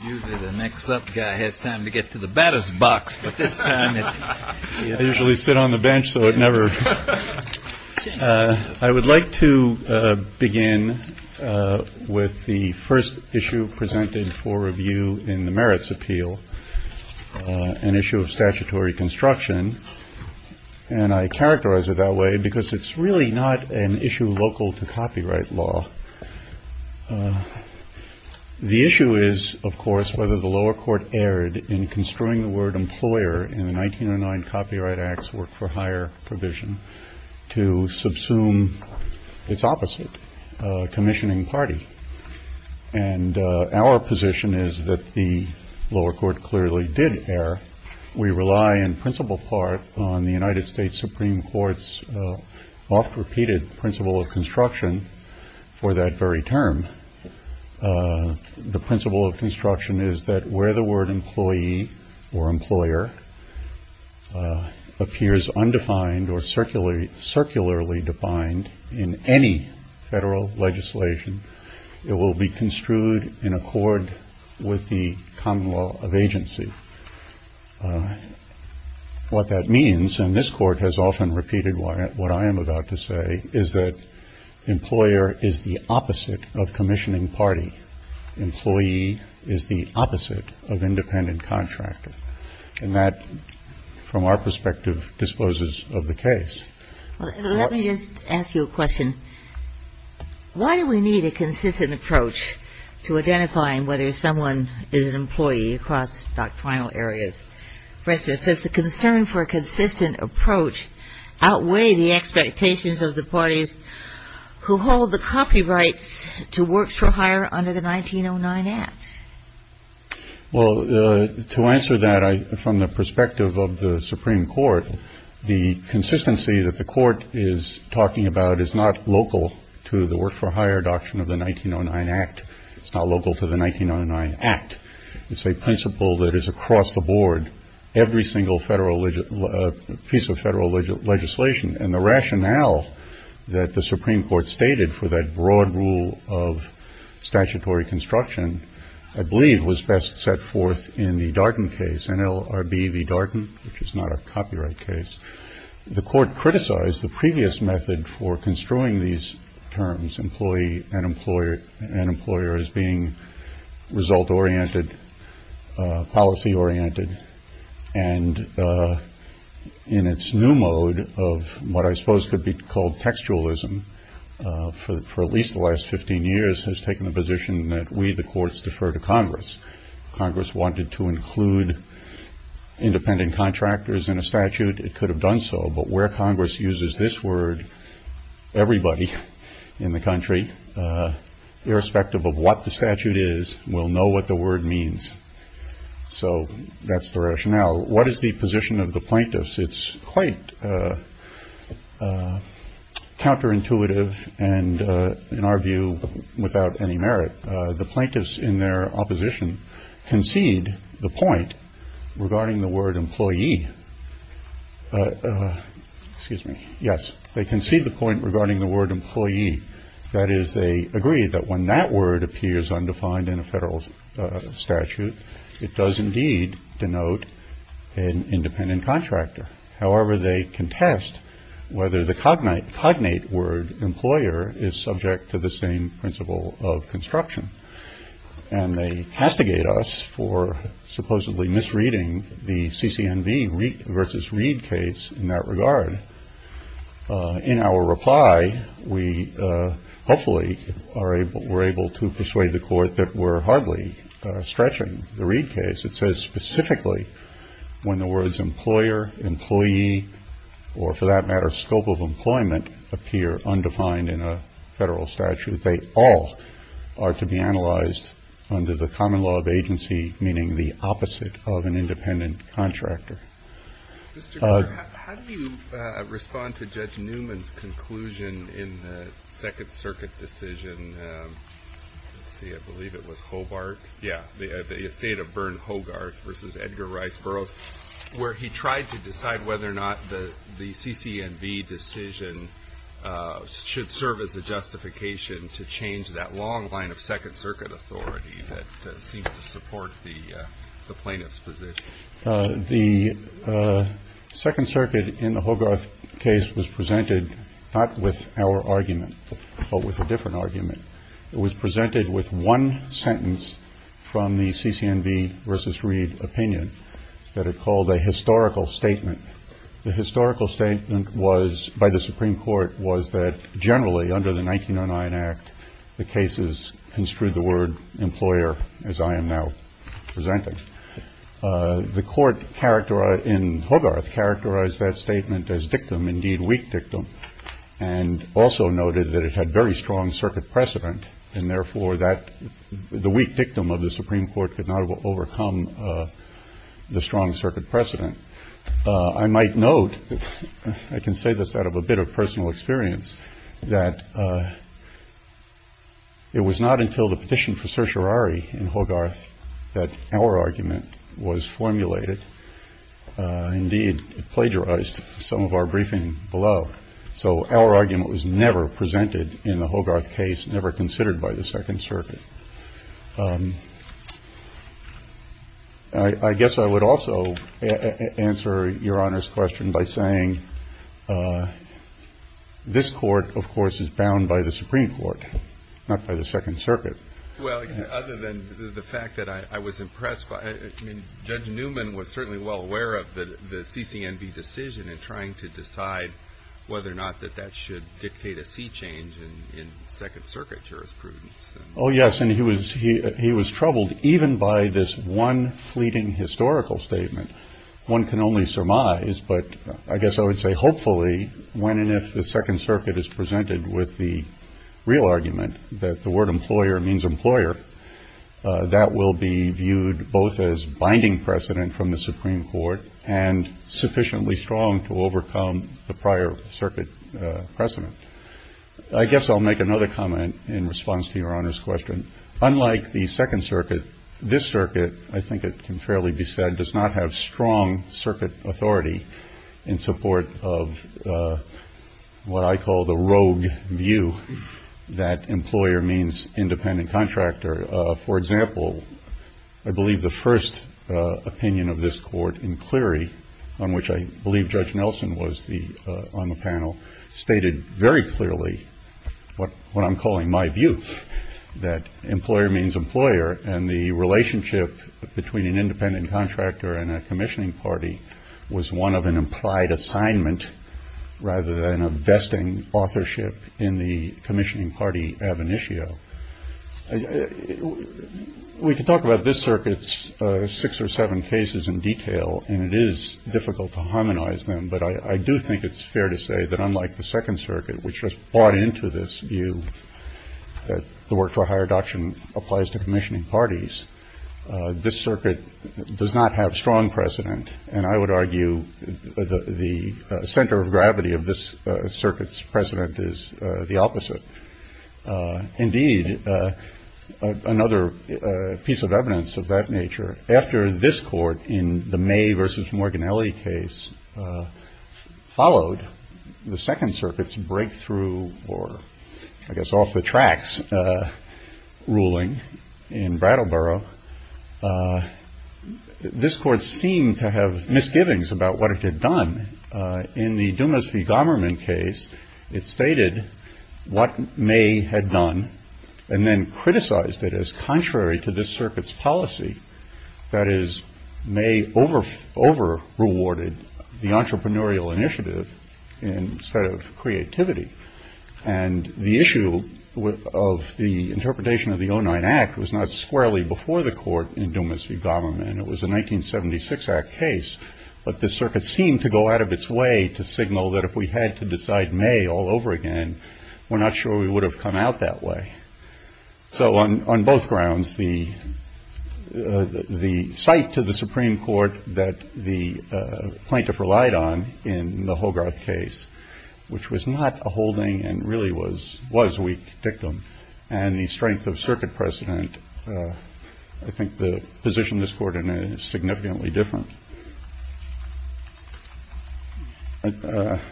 I would like to begin with the first issue presented for review in the merits appeal, an issue of statutory construction. And I characterize it that way because it's really not an issue local to copyright law. The issue is, of course, whether the lower court erred in construing the word employer in the 1909 Copyright Act's Work for Hire provision to subsume its opposite, commissioning party. And our position is that the lower court clearly did err. We rely in principal part on the United States Supreme Court's oft-repeated principle of construction for that very term. The principle of construction is that where the word employee or employer appears undefined or circularly defined in any federal legislation, it will be construed in accord with the common law of agency. What that means, and this Court has often repeated what I am about to say, is that employer is the opposite of commissioning party. Employee is the opposite of independent contractor. And that, from our perspective, disposes of the case. Let me just ask you a question. Why do we need a consistent approach to identifying whether someone is an employee across doctrinal areas? For instance, does the concern for a consistent approach outweigh the expectations of the parties who hold the copyrights to Works for Hire under the 1909 Act? Well, to answer that, from the perspective of the Supreme Court, the consistency that the Court is talking about is not local to the Works for Hire doctrine of the 1909 Act. It's not local to the 1909 Act. It's a principle that is across the board, every single piece of federal legislation. And the rationale that the Supreme Court stated for that broad rule of statutory construction, I believe, was best set forth in the Darden case, NLRB v. Darden, which is not a copyright case. The Court criticized the previous method for construing these terms, employee and employer, and employer as being result-oriented, policy-oriented. And in its new mode of what I suppose could be called textualism, for at least the last 15 years has taken the position that we, the courts, defer to Congress. If Congress wanted to include independent contractors in a statute, it could have done so. But where Congress uses this word, everybody in the country, irrespective of what the statute is, will know what the word means. So that's the rationale. What is the position of the plaintiffs? It's quite counterintuitive and, in our view, without any merit. The plaintiffs in their opposition concede the point regarding the word employee. That is, they agree that when that word appears undefined in a federal statute, it does indeed denote an independent contractor. However, they contest whether the cognate word employer is subject to the same principle of construction. And they castigate us for supposedly misreading the CCNV v. Reed case in that regard. In our persuading the Court that we're hardly stretching the Reed case, it says specifically when the words employer, employee, or, for that matter, scope of employment, appear undefined in a federal statute. They all are to be analyzed under the common law of agency, meaning the opposite of an independent contractor. Mr. Kerr, how do you respond to Judge Newman's conclusion in the Second Circuit decision, let's see, I believe it was Hobart, yeah, the estate of Berne Hogarth v. Edgar Rice Burroughs, where he tried to decide whether or not the CCNV decision should serve as a justification to change that long line of Second Circuit authority that seems to support the plaintiffs' position? The Second Circuit in the Hogarth case was presented not with our argument, but with a different argument. It was presented with one sentence from the CCNV v. Reed opinion that it called a historical statement. The historical statement by the Supreme Court was that generally under the 1909 Act, the cases construed the word employer as I am now presenting, the court in Hogarth characterized that statement as dictum, indeed weak dictum, and also noted that it had very strong Circuit precedent, and therefore the weak dictum of the Supreme Court could not overcome the strong Circuit precedent. I might note, I can say this out of a bit of personal experience, that it was not until the petition for certiorari in Hogarth that our argument was formulated. Indeed, it plagiarized some of our briefing below. So our argument was never presented in the Hogarth case, never considered by the Second Circuit. I guess I would also answer Your Honor's question by saying this Court, of course, is bound by the Supreme Court, not by the Second Circuit. Well, other than the fact that I was impressed by it, I mean, Judge Newman was certainly well aware of the CCNV decision in trying to decide whether or not that that should dictate a sea change in Second Circuit jurisprudence. Oh, yes, and he was troubled even by this one fleeting historical statement. One can only surmise, but I guess I would say hopefully when and if the Second Circuit is presented with the real argument that the word employer means employer, that will be viewed both as binding precedent from the Supreme Court and sufficiently strong to overcome the prior Circuit precedent. I guess I'll make another comment in response to Your Honor's question. Unlike the Second Circuit, this Circuit, I think it can fairly be said, does not have strong Circuit authority in support of what I call the rogue view that employer means independent contractor. For example, I believe the first opinion of this Court in Cleary, on which I believe Judge Nelson was on the panel, stated very clearly what I'm calling my view, that employer means employer and the relationship between an independent contractor and a commissioning party was one of an implied assignment rather than a vesting authorship in the commissioning party ab initio. We could talk about this Circuit's six or seven cases in detail, and it is difficult to harmonize them, but I do think it's fair to say that unlike the Second Circuit, which just bought into this view that the work for higher adoption applies to commissioning and the center of gravity of this Circuit's precedent is the opposite, indeed, another piece of evidence of that nature, after this Court in the May v. Morginelli case followed the Second Circuit's breakthrough or, I guess, off-the-tracks ruling in Brattleboro, this Court seemed to have misgivings about what it had done. In the Dumas v. Garmerman case, it stated what May had done and then criticized it as contrary to this Circuit's policy, that is, May over-rewarded the entrepreneurial initiative instead of creativity, and the issue of the interpretation of the 09 Act was not squarely before the Court in Dumas v. Garmerman. It was a 1976 Act case, but this Circuit seemed to go out of its way to signal that if we had to decide May all over again, we're not sure we would have come out that way. So on both grounds, the site to the Supreme Court that the plaintiff relied on in the Hogarth case, which was not a holding and really was weak dictum and the strength of the Court, I think the position of this Court in it is significantly different. Let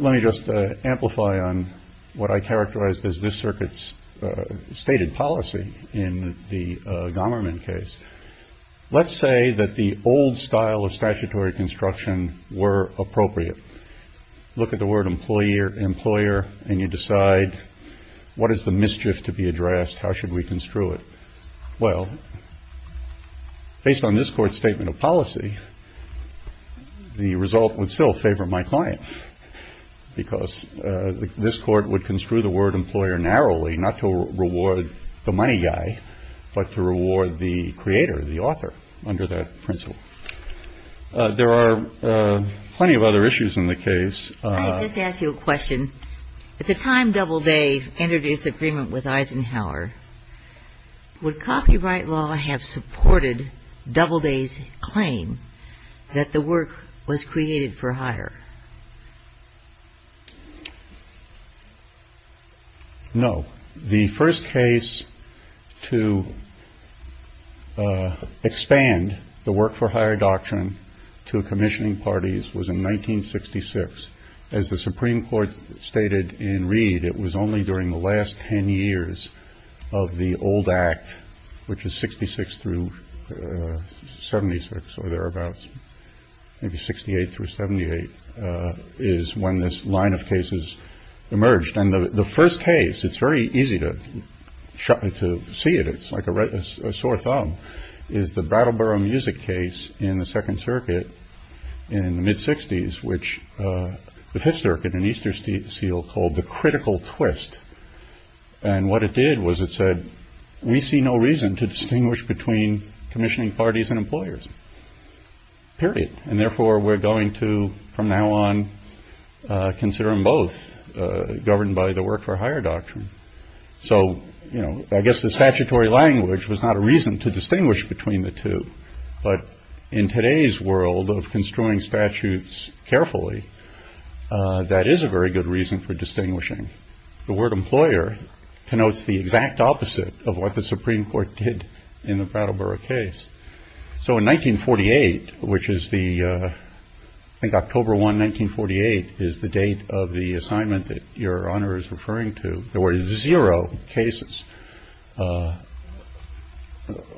me just amplify on what I characterized as this Circuit's stated policy in the Garmerman case. Let's say that the old style of statutory construction were appropriate. Look at the employer and you decide what is the mischief to be addressed, how should we construe it? Well, based on this Court's statement of policy, the result would still favor my client because this Court would construe the word employer narrowly, not to reward the money guy, but to reward the creator, the author, under that principle. There are plenty of other issues in the case. I just asked you a question. At the time Doubleday entered his agreement with Eisenhower, would copyright law have supported Doubleday's claim that the work was created for hire? No. The first case to expand the work for hire doctrine to commissioning parties was in 1966. As the Supreme Court stated in Reed, it was only during the last ten years of the old act, which is 66 through 76, or thereabouts, maybe 68 through 78, is when this line of cases emerged. And the first case, it's very easy to see it, it's like a sore thumb, is the Brattleboro Music case in the Second Circuit in the mid-60s, which the Fifth Circuit in Easterseal called the critical twist. And what it did was it said, we see no reason to distinguish between commissioning parties and employers. Period. And therefore we're going to, from now on, consider them both governed by the work for hire doctrine. So I guess the statutory language was not a reason to distinguish between the two. But in today's world of construing statutes carefully, that is a very good reason for distinguishing. The word employer connotes the exact opposite of what the Supreme Court did in the Brattleboro case. So in 1948, which is the, I think October 1, 1948, is the date of the assignment that Your Honor is referring to, there were zero cases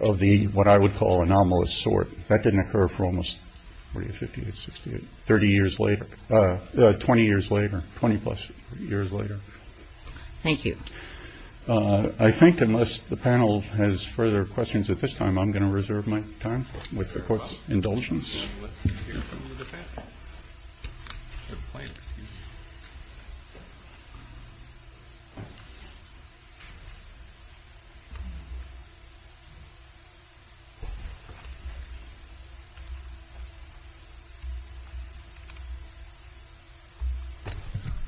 of the, what I would call, anomalous sort. That didn't occur for almost, 40, 50, 60, 30 years later, 20 years later, 20-plus years later. Thank you. I think unless the panel has further questions at this time, I'm going to reserve my time with the Court's indulgence.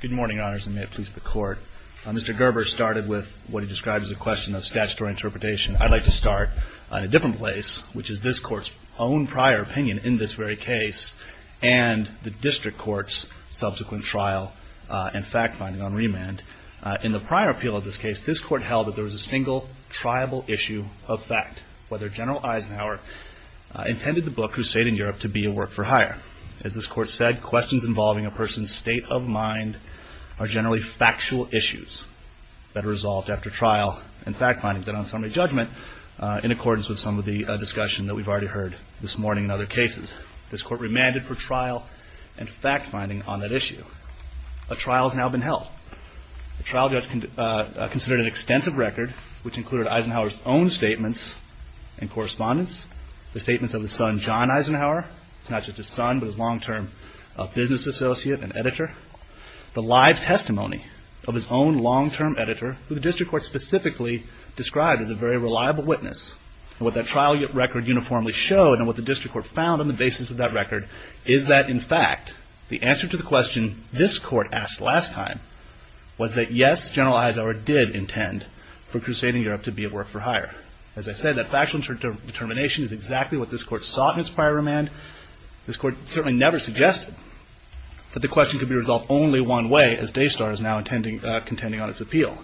Good morning, Your Honors, and may it please the Court. Mr. Gerber started with what he described as a question of statutory interpretation. I'd like to start in a different place, which is this Court's own prior opinion in this very case, and the District Court's subsequent trial and fact-finding on remand. In the prior appeal of this case, this Court held that there was a single, triable issue of fact, whether General Eisenhower intended the book, Crusade in Europe, to be a work for hire. As this Court said, questions involving a person's state of mind are generally factual issues that are resolved after trial and fact-finding, then on summary judgment, in accordance with some of the discussion that we've already heard this morning in other cases. This Court remanded for trial and fact-finding on that issue. A trial has now been held. The trial judge considered an extensive record, which included Eisenhower's own statements and correspondence, the statements of his son, John Eisenhower, not just his son, but his long-term business associate and editor, the live testimony of his own long-term editor, who the District Court specifically described as a very reliable witness. What that trial record uniformly showed, and what the District Court found on the basis of that record, is that, in fact, the answer to the question this Court asked last time was that, yes, General Eisenhower did intend for Crusade in Europe to be a work for hire. As I said, that factual determination is exactly what this Court sought in its prior remand. This Court certainly never suggested that the question could be resolved only one way, as Daystar is now contending on its appeal.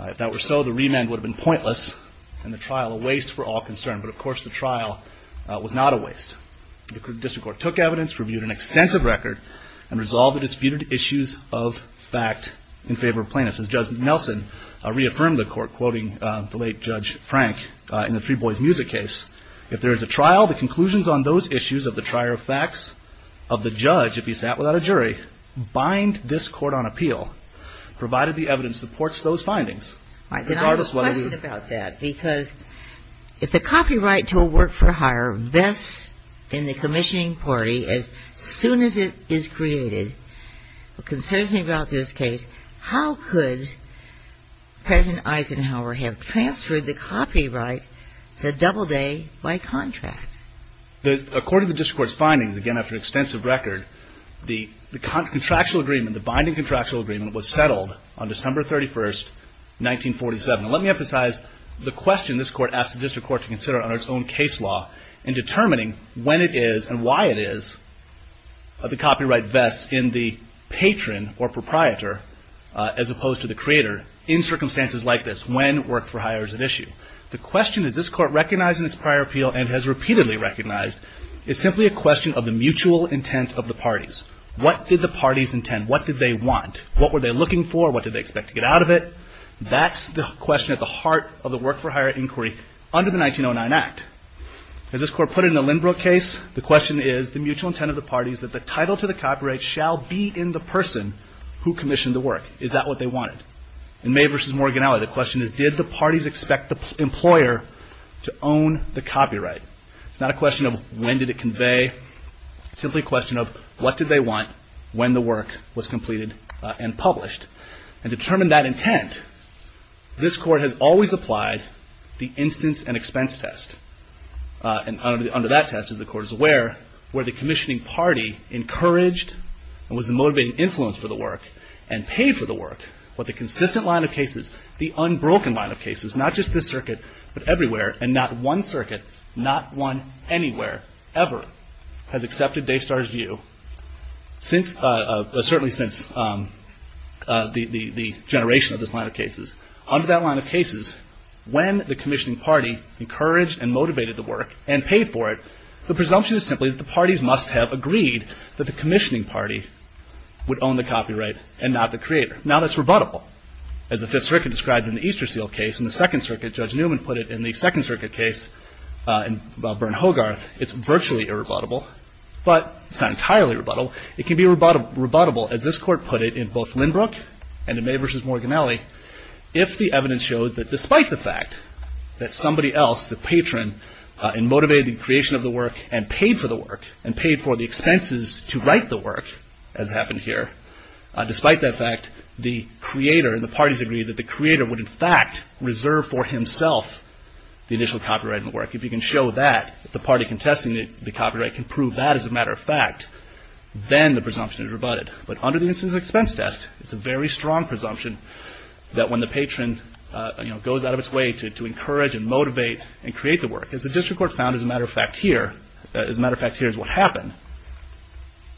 If that were so, the remand would have been a trial, a waste for all concern. But, of course, the trial was not a waste. The District Court took evidence, reviewed an extensive record, and resolved the disputed issues of fact in favor of plaintiffs. As Judge Nelson reaffirmed the Court, quoting the late Judge Frank in the Three Boys Music case, if there is a trial, the conclusions on those issues of the trier of facts of the judge, if he sat without a jury, bind this Court on appeal, provided the evidence supports those findings. All right. Then I have a question about that, because if the copyright to a work for hire vests in the commissioning party as soon as it is created, what concerns me about this case, how could President Eisenhower have transferred the copyright to Doubleday by contract? According to the District Court's findings, again, after an extensive record, the contractual agreement was settled on December 31st, 1947. Let me emphasize the question this Court asked the District Court to consider under its own case law in determining when it is and why it is the copyright vests in the patron or proprietor, as opposed to the creator, in circumstances like this, when work for hire is at issue. The question, as this Court recognized in its prior appeal and has repeatedly recognized, is simply a question of the mutual intent of the parties. What did the parties intend? What did they want? What were they looking for? What did they expect to get out of it? That's the question at the heart of the work for hire inquiry under the 1909 Act. As this Court put it in the Lindbrook case, the question is the mutual intent of the parties that the title to the copyright shall be in the person who commissioned the work. Is that what they wanted? In May v. Morganelli, the question is, did the parties expect the employer to own the copyright? It's not a question of when did it convey. It's simply a question of what did they want when the work was completed and published? Determine that intent. This Court has always applied the instance and expense test. Under that test, as the Court is aware, where the commissioning party encouraged and was a motivating influence for the work and paid for the work, what the consistent line of cases, the unbroken line of cases, not just this circuit, but everywhere, and not one circuit, not one anywhere ever has accepted Daystar's view, certainly since the generation of this line of cases. Under that line of cases, when the commissioning party encouraged and motivated the work and paid for it, the presumption is simply that the parties must have agreed that the commissioning party would own the copyright and not the creator. Now that's rebuttable. As the Fifth Circuit described in the Easterseal case and the Second Circuit, Judge Newman put it in the Second Circuit case about Berne Hogarth, it's virtually irrebuttable, but it's not entirely rebuttable. It can be rebuttable, as this Court put it in both Lindbrook and in May v. Morganelli, if the evidence showed that despite the fact that somebody else, the patron, motivated the creation of the work and paid for the expenses to write the work, as happened here, despite that fact, the creator and the parties agreed that the creator would in fact reserve for himself the initial copyright of the work. If you can show that, if the party contesting the copyright can prove that as a matter of fact, then the presumption is rebutted. But under the instance of the expense test, it's a very strong presumption that when the patron goes out of its way to encourage and motivate and create the work, as the District Court does,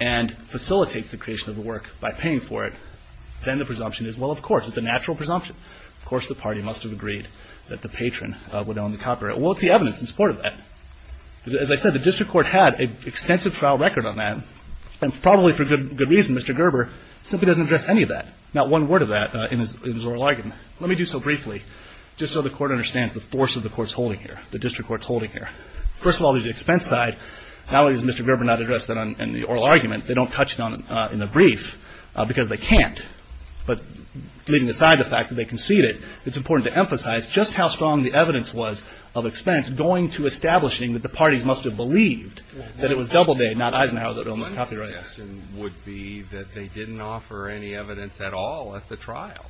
and facilitates the creation of the work by paying for it, then the presumption is, well, of course, it's a natural presumption. Of course, the party must have agreed that the patron would own the copyright. Well, it's the evidence in support of that. As I said, the District Court had an extensive trial record on that, and probably for good reason, Mr. Gerber simply doesn't address any of that, not one word of that in his oral argument. Let me do so briefly, just so the Court understands the force of the Court's holding here, the District Court's holding here. First of all, there's the expense side. Not only does Mr. Gerber not address that in the oral argument, they don't touch it in the brief, because they can't. But leaving aside the fact that they concede it, it's important to emphasize just how strong the evidence was of expense going to establishing that the party must have believed that it was Doubleday, not Eisenhower, that owned the copyright. My suggestion would be that they didn't offer any evidence at all at the trial,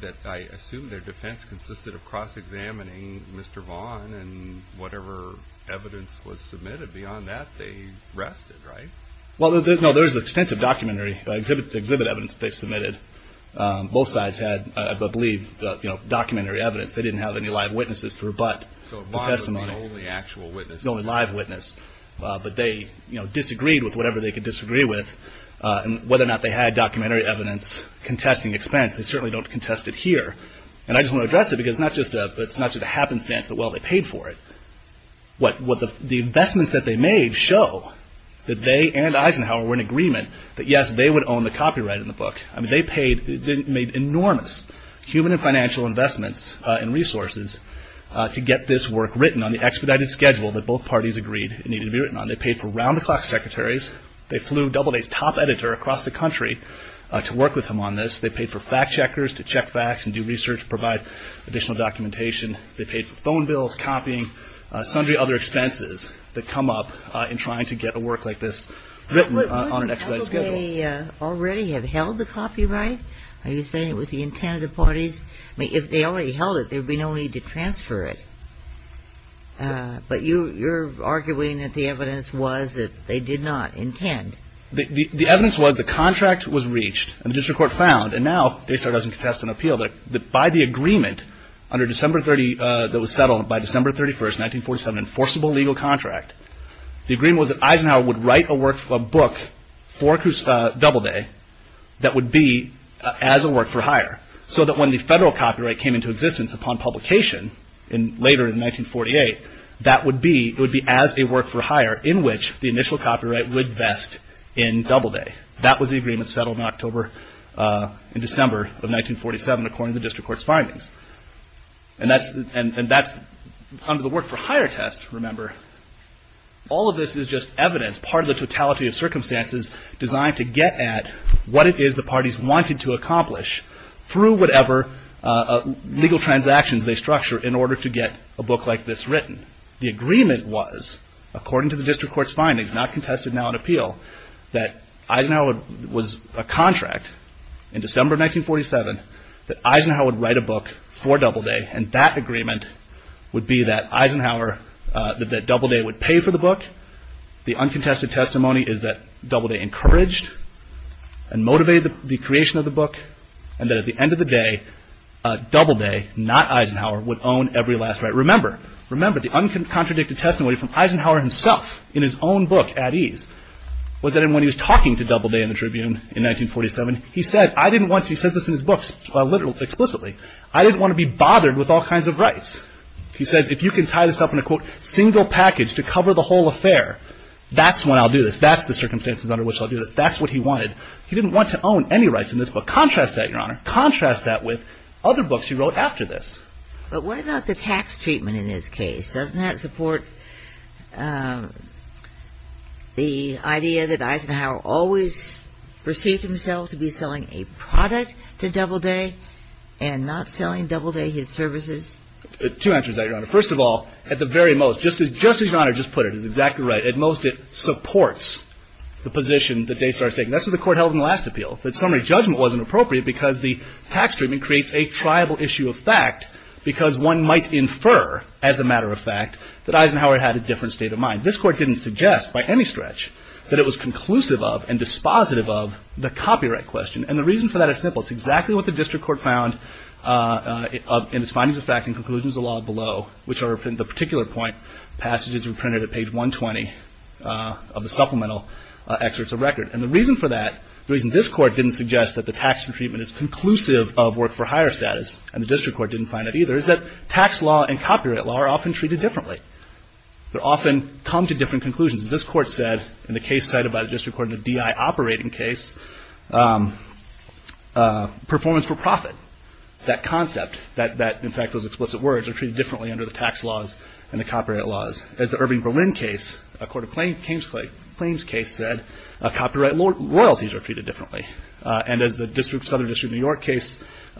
that I assume their defense consisted of cross-examining Mr. Vaughn, and whatever evidence was submitted beyond that, they rested, right? Well, no, there's extensive documentary exhibit evidence they submitted. Both sides had, I believe, documentary evidence. They didn't have any live witnesses to rebut the testimony. So Vaughn was the only actual witness. The only live witness. But they disagreed with whatever they could disagree with, and whether or not they had documentary evidence contesting expense, they certainly don't contest it here. And I just want to address it, because it's not just a happenstance that, well, they paid for it. The investments that they made show that they and Eisenhower were in agreement that, yes, they would own the copyright in the book. They made enormous human and financial investments and resources to get this work written on the expedited schedule that both parties agreed it needed to be written on. They paid for round-the-clock secretaries. They flew Doubleday's top editor across the country to work with them on this. They paid for fact-checkers to check facts and do research to provide additional documentation. They paid for phone bills, copying, some of the other expenses that come up in trying to get a work like this written on an expedited schedule. Wouldn't Doubleday already have held the copyright? Are you saying it was the intent of the parties? I mean, if they already held it, there would be no need to transfer it. But you're arguing that the evidence was that they did not intend. The evidence was the contract was reached and the district court found, and now Daystar doesn't contest an appeal, that by the agreement that was settled by December 31st, 1947, enforceable legal contract, the agreement was that Eisenhower would write a book for Doubleday that would be as a work-for-hire, so that when the federal copyright came into existence upon publication later in 1948, that would be as a work-for-hire in which the initial copyright would vest in Doubleday. That was the agreement settled in October and December of 1947 according to the district court's findings. And that's under the work-for-hire test, remember. All of this is just evidence, part of the totality of circumstances designed to get at what it is the parties wanted to accomplish through whatever legal transactions they structure The agreement was, according to the district court's findings, not contested now in appeal, that Eisenhower was a contract in December 1947 that Eisenhower would write a book for Doubleday and that agreement would be that Doubleday would pay for the book. The uncontested testimony is that Doubleday encouraged and motivated the creation of the book and that at the end of the day, Doubleday, not Eisenhower, would own every last right. Remember, the uncontested testimony from Eisenhower himself in his own book, At Ease, was that when he was talking to Doubleday in the Tribune in 1947, he said, I didn't want to, he says this in his book explicitly, I didn't want to be bothered with all kinds of rights. He says if you can tie this up in a single package to cover the whole affair, that's when I'll do this. That's the circumstances under which I'll do this. That's what he wanted. He didn't want to own any rights in this book. Contrast that, your honor. Contrast that with other books he wrote after this. But what about the tax treatment in this case? Doesn't that support the idea that Eisenhower always perceived himself to be selling a product to Doubleday and not selling Doubleday his services? Two answers to that, your honor. First of all, at the very most, just as your honor just put it, is exactly right, at most it supports the position that Daystar is taking. That's what the court held in the last appeal, that summary judgment wasn't appropriate because the tax treatment creates a triable issue of fact because one might infer, as a matter of fact, that Eisenhower had a different state of mind. This court didn't suggest by any stretch that it was conclusive of and dispositive of the copyright question. The reason for that is simple. It's exactly what the district court found in its findings of fact and conclusions of law below, which are the particular point passages were printed at page 120 of the supplemental excerpts of record. The reason for that, the reason this tax treatment is conclusive of work-for-hire status, and the district court didn't find it either, is that tax law and copyright law are often treated differently. They often come to different conclusions. As this court said in the case cited by the district court in the DI operating case, performance for profit, that concept, that in fact those explicit words are treated differently under the tax laws and the copyright laws. As the Irving Berlin case, a court of claims case said, copyright loyalties are treated differently. And as the Southern District of New York case,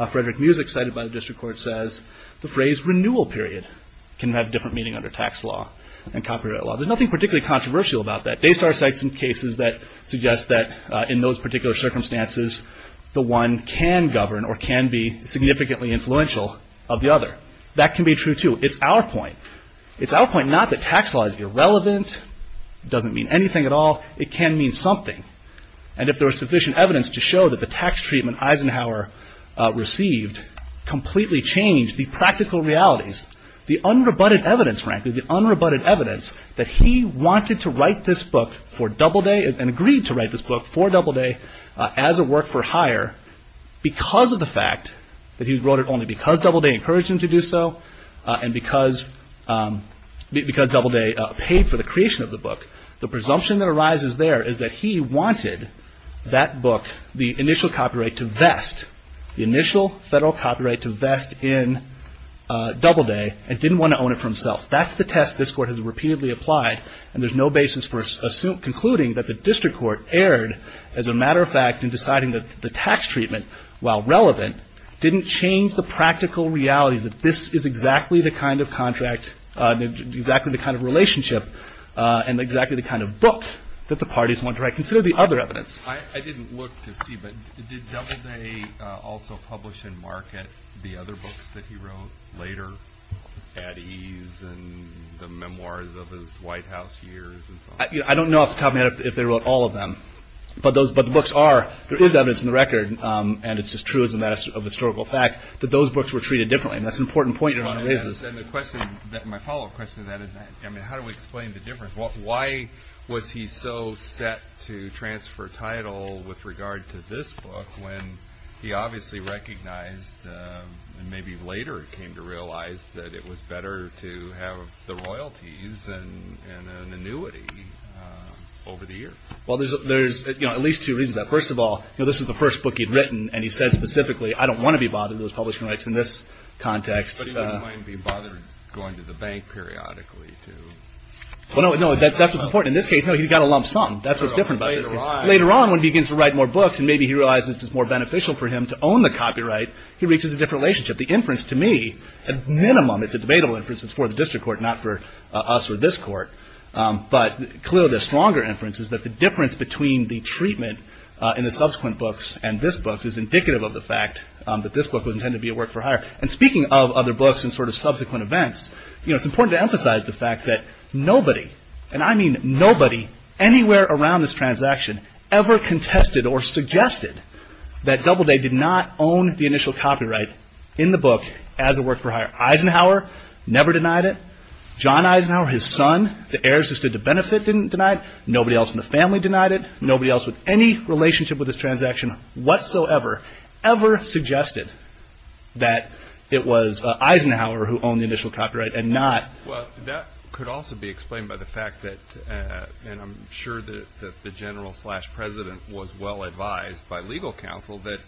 Frederick Muzik, cited by the district court says, the phrase renewal period can have different meaning under tax law and copyright law. There's nothing particularly controversial about that. Daystar cites some cases that suggest that in those particular circumstances, the one can govern or can be significantly influential of the other. That can be true too. It's our point. It's our point not that tax law is irrelevant. It doesn't mean anything at all. It can mean something. And if there is evidence to show that the tax treatment Eisenhower received completely changed the practical realities, the unrebutted evidence frankly, the unrebutted evidence that he wanted to write this book for Doubleday and agreed to write this book for Doubleday as a work for hire because of the fact that he wrote it only because Doubleday encouraged him to do so and because Doubleday paid for the creation of the book. The presumption that arises there is that he wanted that book, the initial copyright to vest, the initial federal copyright to vest in Doubleday and didn't want to own it for himself. That's the test this court has repeatedly applied and there's no basis for concluding that the district court erred as a matter of fact in deciding that the tax treatment, while relevant, didn't change the practical realities that this is exactly the kind of contract, exactly the kind of relationship and exactly the kind of book that the parties want to write. Consider the other evidence. I didn't look to see, but did Doubleday also publish and market the other books that he wrote later at ease and the memoirs of his White House years and so on? I don't know off the top of my head if they wrote all of them, but the books are, there is evidence in the record and it's just true as a matter of historical fact that those books were treated differently and that's an important point you're trying to raise. My follow up question to that is, how do we explain the difference? Why was he so set to transfer title with regard to this book when he obviously recognized and maybe later came to realize that it was better to have the royalties and an annuity over the years? There's at least two reasons. First of all, this is the first book he'd written and he said specifically, I don't want to be bothered with those publishing rights in this context. But he wouldn't mind being bothered going to the bank periodically to... No, that's what's important. In this case, he got a lump sum. That's what's different about this case. Later on when he begins to write more books and maybe he realizes it's more beneficial for him to own the copyright, he reaches a different relationship. The inference to me, at minimum, it's a debatable inference, it's for the district court, not for us or this court, but clearly the stronger inference is that the difference between the treatment in the subsequent books and this book is indicative of the fact that this book was intended to work for hire. Speaking of other books and subsequent events, it's important to emphasize the fact that nobody, and I mean nobody, anywhere around this transaction ever contested or suggested that Doubleday did not own the initial copyright in the book as a work for hire. Eisenhower never denied it. John Eisenhower, his son, the heirs who stood to benefit didn't deny it. Nobody else in the family denied it. Nobody else with any relationship with this transaction whatsoever ever suggested that it was Eisenhower who owned the initial copyright and not- Well, that could also be explained by the fact that, and I'm sure that the general slash president was well advised by legal counsel, that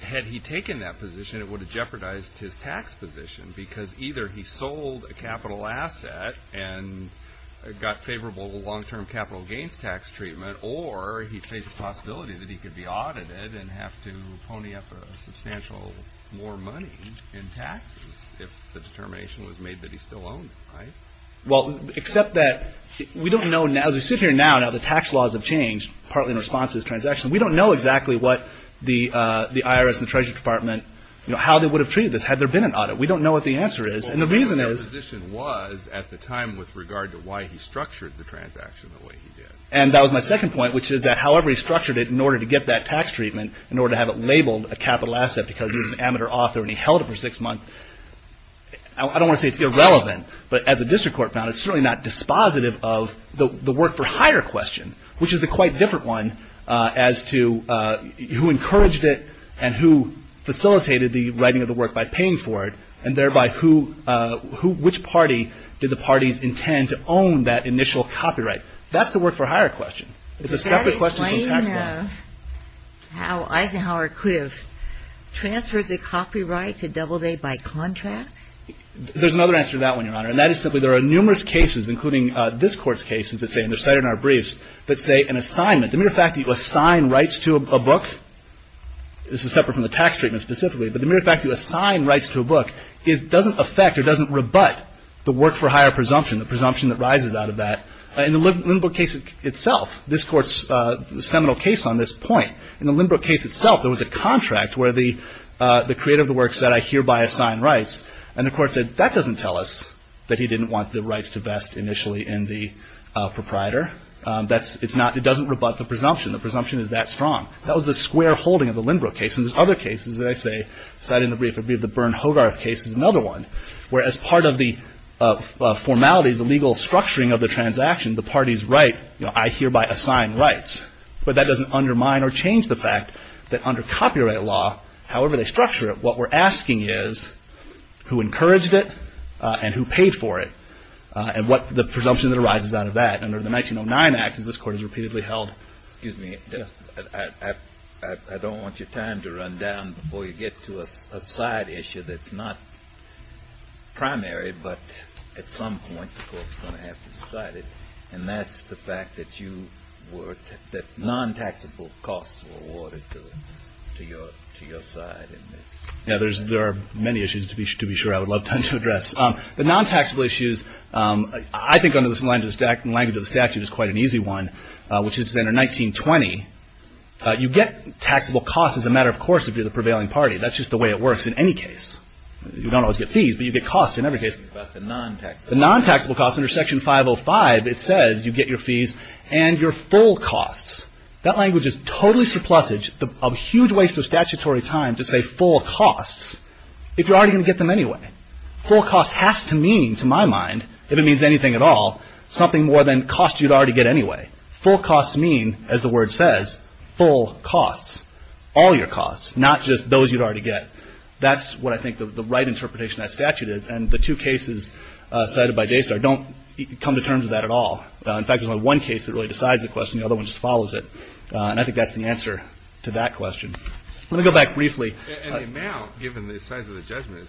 had he taken that position it would have jeopardized his tax position because either he sold a capital asset and got favorable long-term capital gains tax treatment or he faced the possibility that he could be audited and have to pony up a substantial more money in taxes if the determination was made that he still owned it, right? Well, except that we don't know now, as we sit here now, now the tax laws have changed, partly in response to this transaction. We don't know exactly what the IRS and the Treasury Department, you know, how they would have treated this had there been an audit. We don't know what the answer is. And the reason is- And that was my second point, which is that however he structured it in order to get that tax treatment, in order to have it labeled a capital asset because he was an amateur author and he held it for six months, I don't want to say it's irrelevant, but as a district court found it's certainly not dispositive of the work for hire question, which is the quite different one as to who encouraged it and who facilitated the writing of the work by paying for it and thereby who, which party did the parties intend to own that initial copyright? That's the work for hire question. It's a separate question from tax law. Does that explain how Eisenhower could have transferred the copyright to Doubleday by contract? There's another answer to that one, Your Honor, and that is simply there are numerous cases, including this Court's cases that say, and they're cited in our briefs, that say an assignment, the mere fact that you assign rights to a book, this is separate from the tax treatment specifically, but the mere fact that you assign rights to a book doesn't affect or doesn't rebut the work for hire presumption, the presumption that rises out of that. In the Lindbrook case itself, this Court's seminal case on this point, in the Lindbrook case itself there was a contract where the creator of the work said, I hereby assign rights, and the Court said, that doesn't tell us that he didn't want the rights to vest initially in the proprietor. It doesn't rebut the presumption. The presumption is that strong. That was the square holding of the Lindbrook case, and there's other cases that I say, cited in the brief, the Bern-Hogarth case is another one, where as part of the formalities, the legal structuring of the transaction, the parties write, I hereby assign rights, but that doesn't undermine or change the fact that under copyright law, however they structure it, what we're asking is who encouraged it and who paid for it, and what the presumption that arises out of that. Under the 1909 Act, as this Court has repeatedly held, excuse me, I don't want your time to run down before you get to a side issue that's not primary, but at some point the Court's going to have to decide it, and that's the fact that you were, that non-taxable costs were awarded to your side in this. There are many issues, to be sure, I would love time to address. The non-taxable issues, I think under the language of the statute is quite an easy one, which is under 1920, you get taxable costs as a matter of course if you're the prevailing party. That's just the way it works in any case. You don't always get fees, but you get costs in every case. The non-taxable costs under Section 505, it says you get your fees and your full costs. That language is totally surplusage, a huge waste of statutory time to say full costs if you're already going to get them anyway. Full cost has to mean, to my mind, if it means anything at all, something more than costs you'd already get anyway. Full costs mean, as the word says, full costs, all your costs, not just those you'd already get. That's what I think the right interpretation of that statute is, and the two cases cited by JSTAR don't come to terms with that at all. In fact, there's only one case that really decides the question, the other one just follows it, and I think that's the answer to that question. Let me go back briefly. And the amount, given the size of the judgment,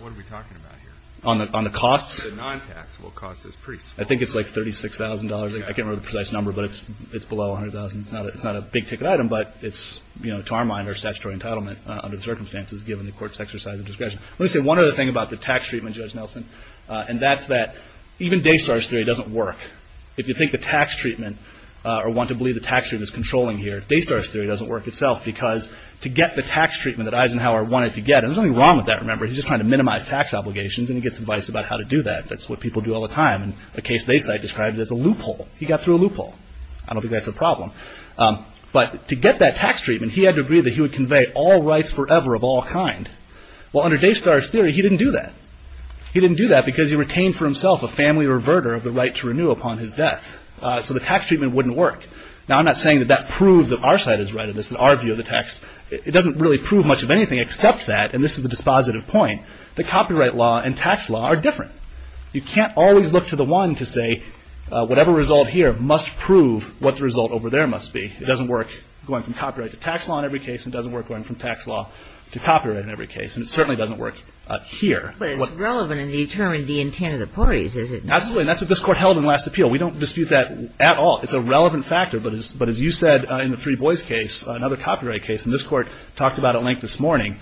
what are we talking about here? On the costs? The non-taxable costs is pretty small. I think it's like $36,000. I can't remember the precise number, but it's below $100,000. It's not a big-ticket item, but it's, to our mind, our statutory entitlement under the circumstances given the Court's exercise of discretion. Let me say one other thing about the tax treatment, Judge Nelson, and that's that even Daystar's theory doesn't work. If you think the tax treatment, or want to believe the to get the tax treatment that Eisenhower wanted to get, and there's nothing wrong with that, remember, he's just trying to minimize tax obligations, and he gets advice about how to do that. That's what people do all the time, and a case they cite describes it as a loophole. He got through a loophole. I don't think that's a problem. But to get that tax treatment, he had to agree that he would convey all rights forever of all kind. Well, under Daystar's theory, he didn't do that. He didn't do that because he retained for himself a family reverter of the right to renew upon his death. So the tax treatment wouldn't work. Now, I'm not saying that that proves that our view of the tax, it doesn't really prove much of anything except that, and this is the dispositive point, that copyright law and tax law are different. You can't always look to the one to say whatever result here must prove what the result over there must be. It doesn't work going from copyright to tax law in every case, and it doesn't work going from tax law to copyright in every case, and it certainly doesn't work here. But it's relevant in determining the intent of the parties, is it not? Absolutely, and that's what this Court held in last appeal. We don't dispute that at all. It's a relevant factor, but as you said in the three boys case, another copyright case, and this Court talked about at length this morning,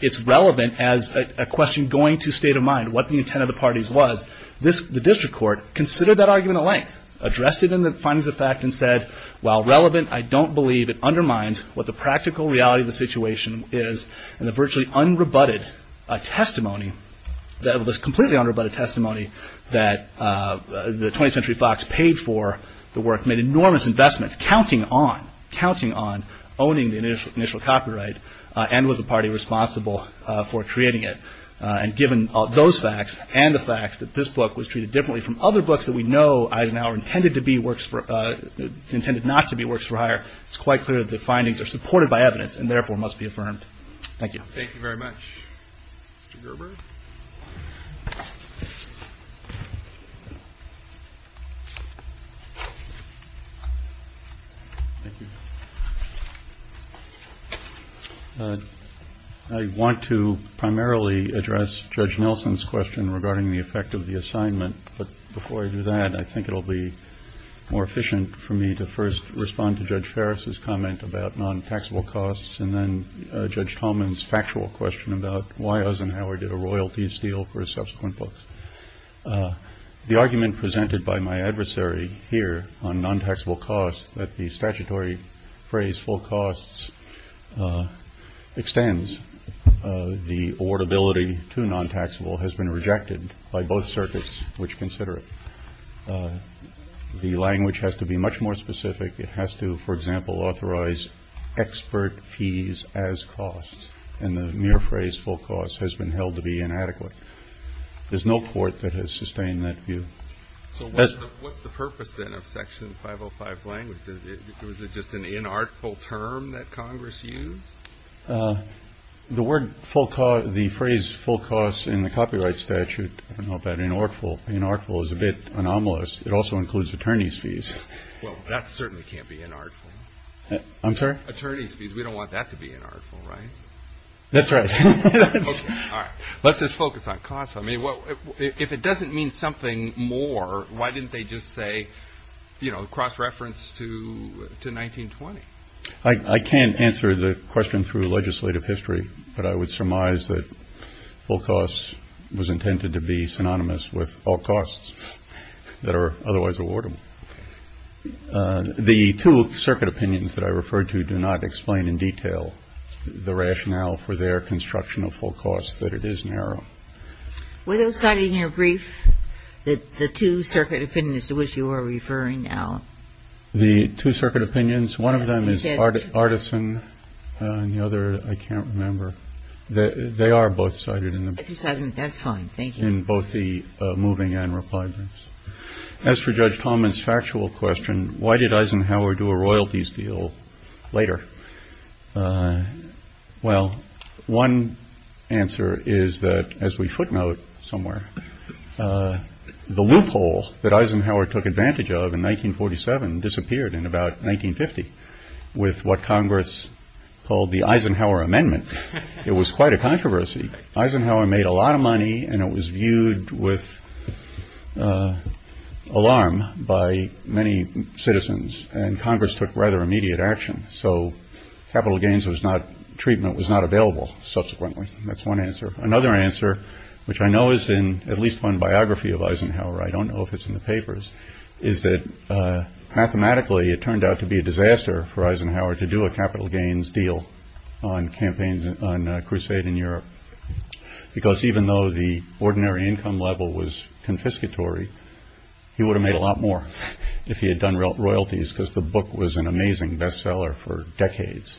it's relevant as a question going to state of mind, what the intent of the parties was. The District Court considered that argument at length, addressed it in the findings of fact and said, while relevant, I don't believe it undermines what the practical reality of the situation is, and the virtually unrebutted testimony, the completely unrebutted testimony that the 20th Century Fox paid for the work made enormous investments, counting on, counting on, owning the initial copyright and was a party responsible for creating it. And given those facts and the facts that this book was treated differently from other books that we know are now intended to be works for, intended not to be works for hire, it's quite clear that the findings are supported by evidence and therefore must be affirmed. Thank you very much. Mr. Gerber? I want to primarily address Judge Nelson's question regarding the effect of the assignment, but before I do that, I think it will be more efficient for me to first respond to Judge Ferris' comment about non-taxable costs and then Judge Tolman's factual question about why Eisenhower did a royalties deal for his subsequent books. The argument presented by my adversary here on non-taxable costs that the statutory phrase full costs extends the awardability to non-taxable has been rejected by both circuits which consider it. The language has to be much more specific. It has to, for example, authorize expert fees as costs, and the mere phrase full costs has been held to be inadequate. There's no court that has sustained that view. So what's the purpose, then, of Section 505 language? Is it just an inartful term that Congress used? The phrase full costs in the copyright statute, I don't know about inartful. Inartful is a bit anomalous. It also includes attorney's fees. Well, that certainly can't be inartful. I'm sorry? Attorney's fees. We don't want that to be inartful, right? That's right. Okay. All right. Let's just focus on costs. I mean, if it doesn't mean something more, why didn't they just say, you know, cross-reference to 1920? I can't answer the question through legislative history, but I would surmise that full costs was intended to be synonymous with all costs that are otherwise awardable. The two circuit opinions that I referred to do not explain in detail the rationale for their construction of full costs, that it is narrow. Were those cited in your brief, the two circuit opinions to which you are referring now? The two circuit opinions, one of them is Artisan and the other, I can't remember. They are both cited in the brief. That's fine. Thank you. In both the moving and reply briefs. As for Judge Talman's factual question, why did Eisenhower do a royalties deal later? Well, one answer is that, as we footnote somewhere, the loophole that Eisenhower took advantage of in 1947 disappeared in about 1950 with what Congress called the Eisenhower Amendment. It was quite a controversy. Eisenhower made a lot of money and it was viewed with alarm by many citizens. And Congress took rather immediate action. So capital gains was not, treatment was not available subsequently. That's one answer. Another answer, which I know is in at least one biography of Eisenhower, I don't know if it's in the papers, is that mathematically it turned out to be a disaster for Eisenhower to do a capital gains deal on campaigns on a crusade in Europe, because even though the ordinary income level was confiscatory, he would have made a lot more if he had done royalties because the book was an amazing bestseller for decades.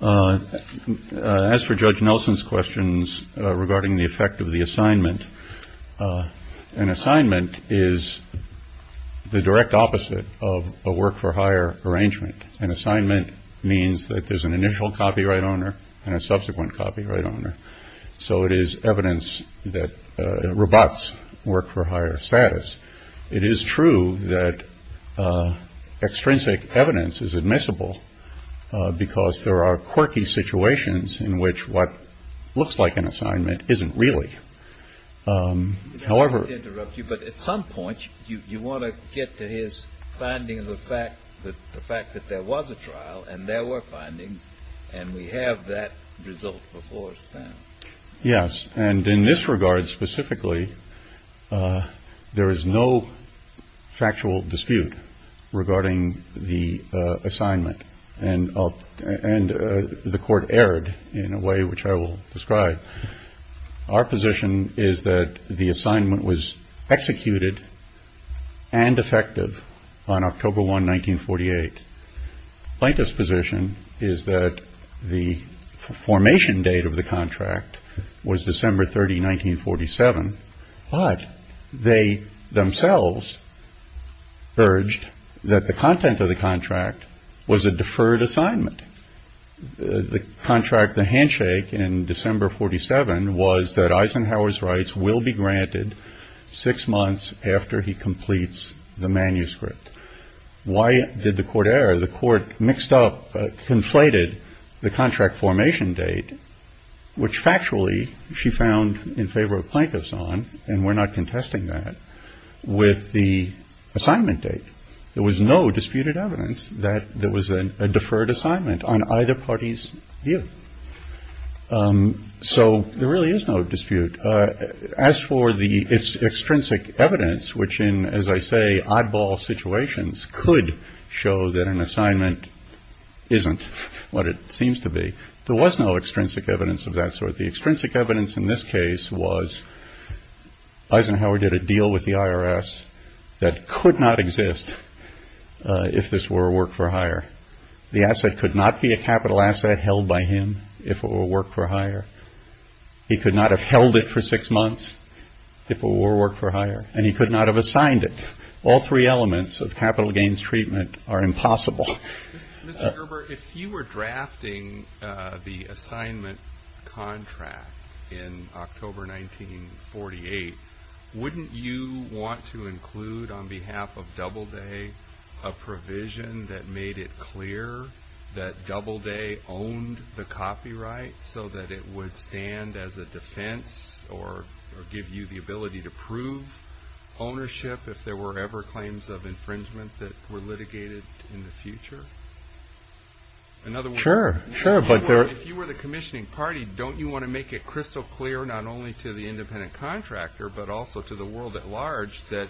As for Judge Nelson's questions regarding the effect of the assignment, an assignment is the direct opposite of a work for hire arrangement. An assignment means that there's an initial copyright owner and a subsequent copyright owner. So it is evidence that robots work for higher status. It is true that extrinsic evidence is admissible because there are quirky situations in which what looks like an assignment isn't really. However, interrupt you, but at some point you want to get to his findings of fact, the fact that there was a trial and there were findings and we have that result before. Yes. And in this regard specifically, there is no factual dispute regarding the assignment. And and the court erred in a way which I will describe. Our position is that the assignment was executed and effective on October 1, 1948. Plaintiff's position is that the formation date of the contract was December 30, 1947. But they themselves urged that the content of the contract was a deferred assignment. The contract, the handshake in December 47, was that Eisenhower's rights will be granted six months after he completes the manuscript. Why did the court error? The court mixed up, conflated the contract formation date, which factually she found in favor of plaintiffs on. And we're not contesting that with the assignment date. There was no disputed evidence that there was a deferred assignment on either party's view. So there really is no dispute. As for the extrinsic evidence, which in, as I say, oddball situations could show that an assignment isn't what it seems to be. There was no extrinsic evidence of that sort. The extrinsic evidence in this case was Eisenhower did a deal with the IRS that could not exist if this were work for hire. The asset could not be a capital asset held by him if it were work for hire. He could not have held it for six months if it were work for hire and he could not have assigned it. All three elements of capital gains treatment are impossible. Mr. Gerber, if you were drafting the assignment contract in October 1948, wouldn't you want to include on behalf of Doubleday a provision that made it clear that Doubleday owned the copyright so that it would stand as a defense or give you the ability to prove ownership if there were ever claims of infringement that were litigated in the future? In other words, if you were the commissioning party, don't you want to make it crystal clear not only to the independent contractor, but also to the world at large that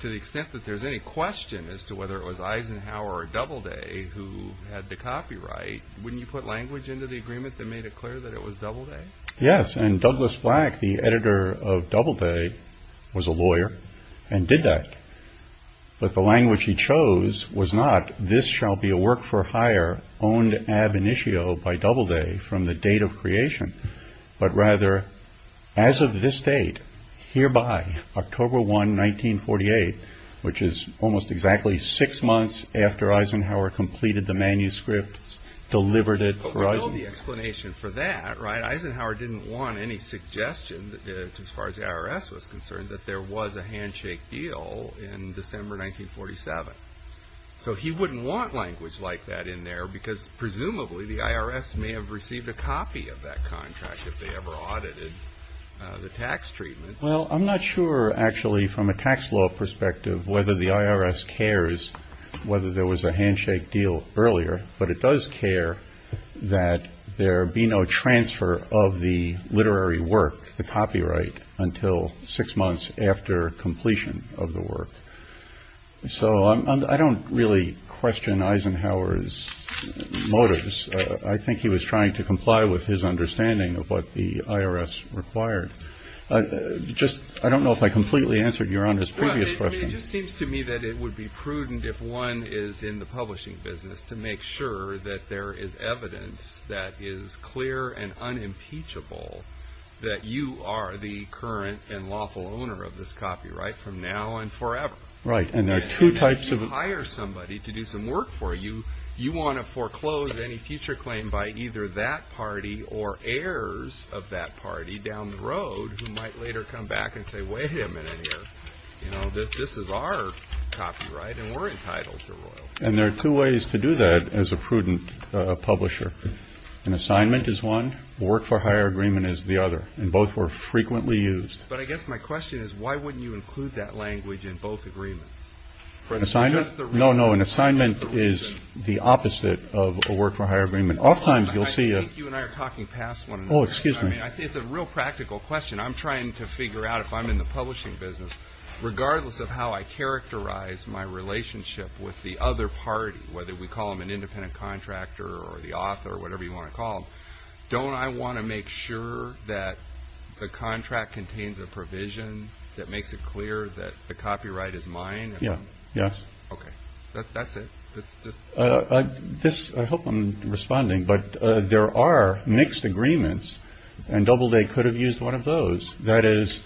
to the extent that there's any question as to whether it was Eisenhower or Doubleday who had the copyright, wouldn't you put language into the agreement that made it clear that it was Doubleday? Yes, and Douglas Black, the editor of Doubleday, was a lawyer and did that. But the language he chose was not this shall be a work for hire owned ab initio by Doubleday from the date of creation, but rather as of this date, hereby, October 1, 1948, which is almost exactly six months after Eisenhower completed the manuscript, delivered it for Eisenhower. But we know the explanation for that, right? Eisenhower didn't want any suggestion as far as the IRS was concerned that there was a handshake deal in December 1947. So he wouldn't want language like that in there because presumably the IRS may have received a copy of that contract if they ever audited the tax treatment. Well, I'm not sure, actually, from a tax law perspective, whether the IRS cares whether there was a handshake deal earlier. But it does care that there be no transfer of the literary work, the copyright, until six months after completion of the work. So I don't really question Eisenhower's motives. I think he was trying to comply with his understanding of what the IRS required. Just I don't know if I completely answered your on this previous question. It just seems to me that it would be prudent if one is in the publishing business to make sure that there is evidence that is clear and unimpeachable, that you are the current and lawful owner of this copyright from now and forever. Right. And there are two types of hire somebody to do some work for you. You want to foreclose any future claim by either that party or heirs of that party down the road who might later come back and say, wait a minute. You know, this is our copyright and we're entitled to. And there are two ways to do that as a prudent publisher. An assignment is one work for hire agreement is the other. And both were frequently used. But I guess my question is, why wouldn't you include that language in both agreements? No, no. An assignment is the opposite of a work for hire agreement. Oftentimes you'll see you and I are talking past one. Oh, excuse me. I mean, it's a real practical question. I'm trying to figure out if I'm in the publishing business, regardless of how I characterize my relationship with the other party, whether we call them an independent contractor or the author or whatever you want to call. Don't I want to make sure that the contract contains a provision that makes it clear that the copyright is mine? Yeah. Yes. OK, that's it. This I hope I'm responding. But there are mixed agreements and double they could have used one of those. That is,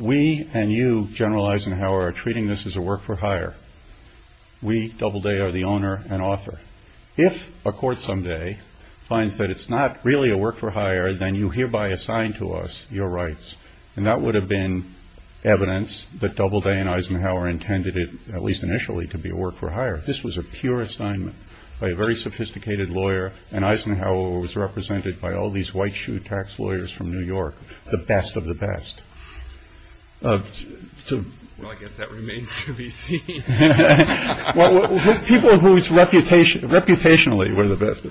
we and you generalize and how are treating this as a work for hire. We double day are the owner and author. If a court someday finds that it's not really a work for hire, then you hereby assign to us your rights. And that would have been evidence that double day and Eisenhower intended it, at least initially, to be a work for hire. This was a pure assignment by a very sophisticated lawyer. And Eisenhower was represented by all these white shoe tax lawyers from New York. The best of the best. So I guess that remains to be seen. Well, people whose reputation reputationally were the best.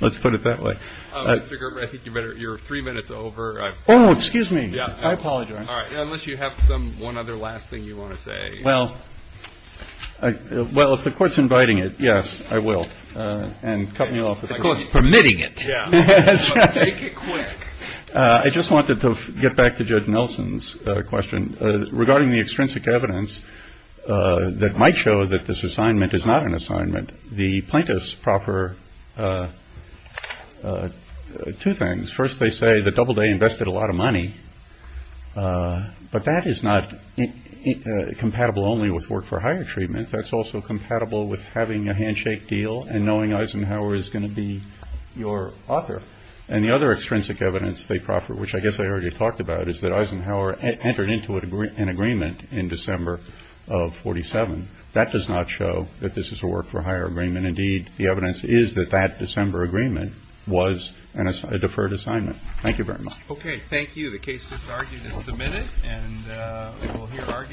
Let's put it that way. I think you're three minutes over. Oh, excuse me. I apologize. All right. Unless you have some one other last thing you want to say. Well, well, if the court's inviting it. Yes, I will. And cutting you off, of course, permitting it quick. I just wanted to get back to Judge Nelson's question regarding the extrinsic evidence that might show that this assignment is not an assignment. The plaintiff's proper two things. First, they say the double day invested a lot of money, but that is not compatible only with work for hire treatment. That's also compatible with having a handshake deal and knowing Eisenhower is going to be your author. And the other extrinsic evidence they proffer, which I guess I already talked about, is that Eisenhower entered into an agreement in December of 47. That does not show that this is a work for hire agreement. Indeed, the evidence is that that December agreement was a deferred assignment. Thank you very much. Okay. Thank you. The case is submitted and we'll hear arguments.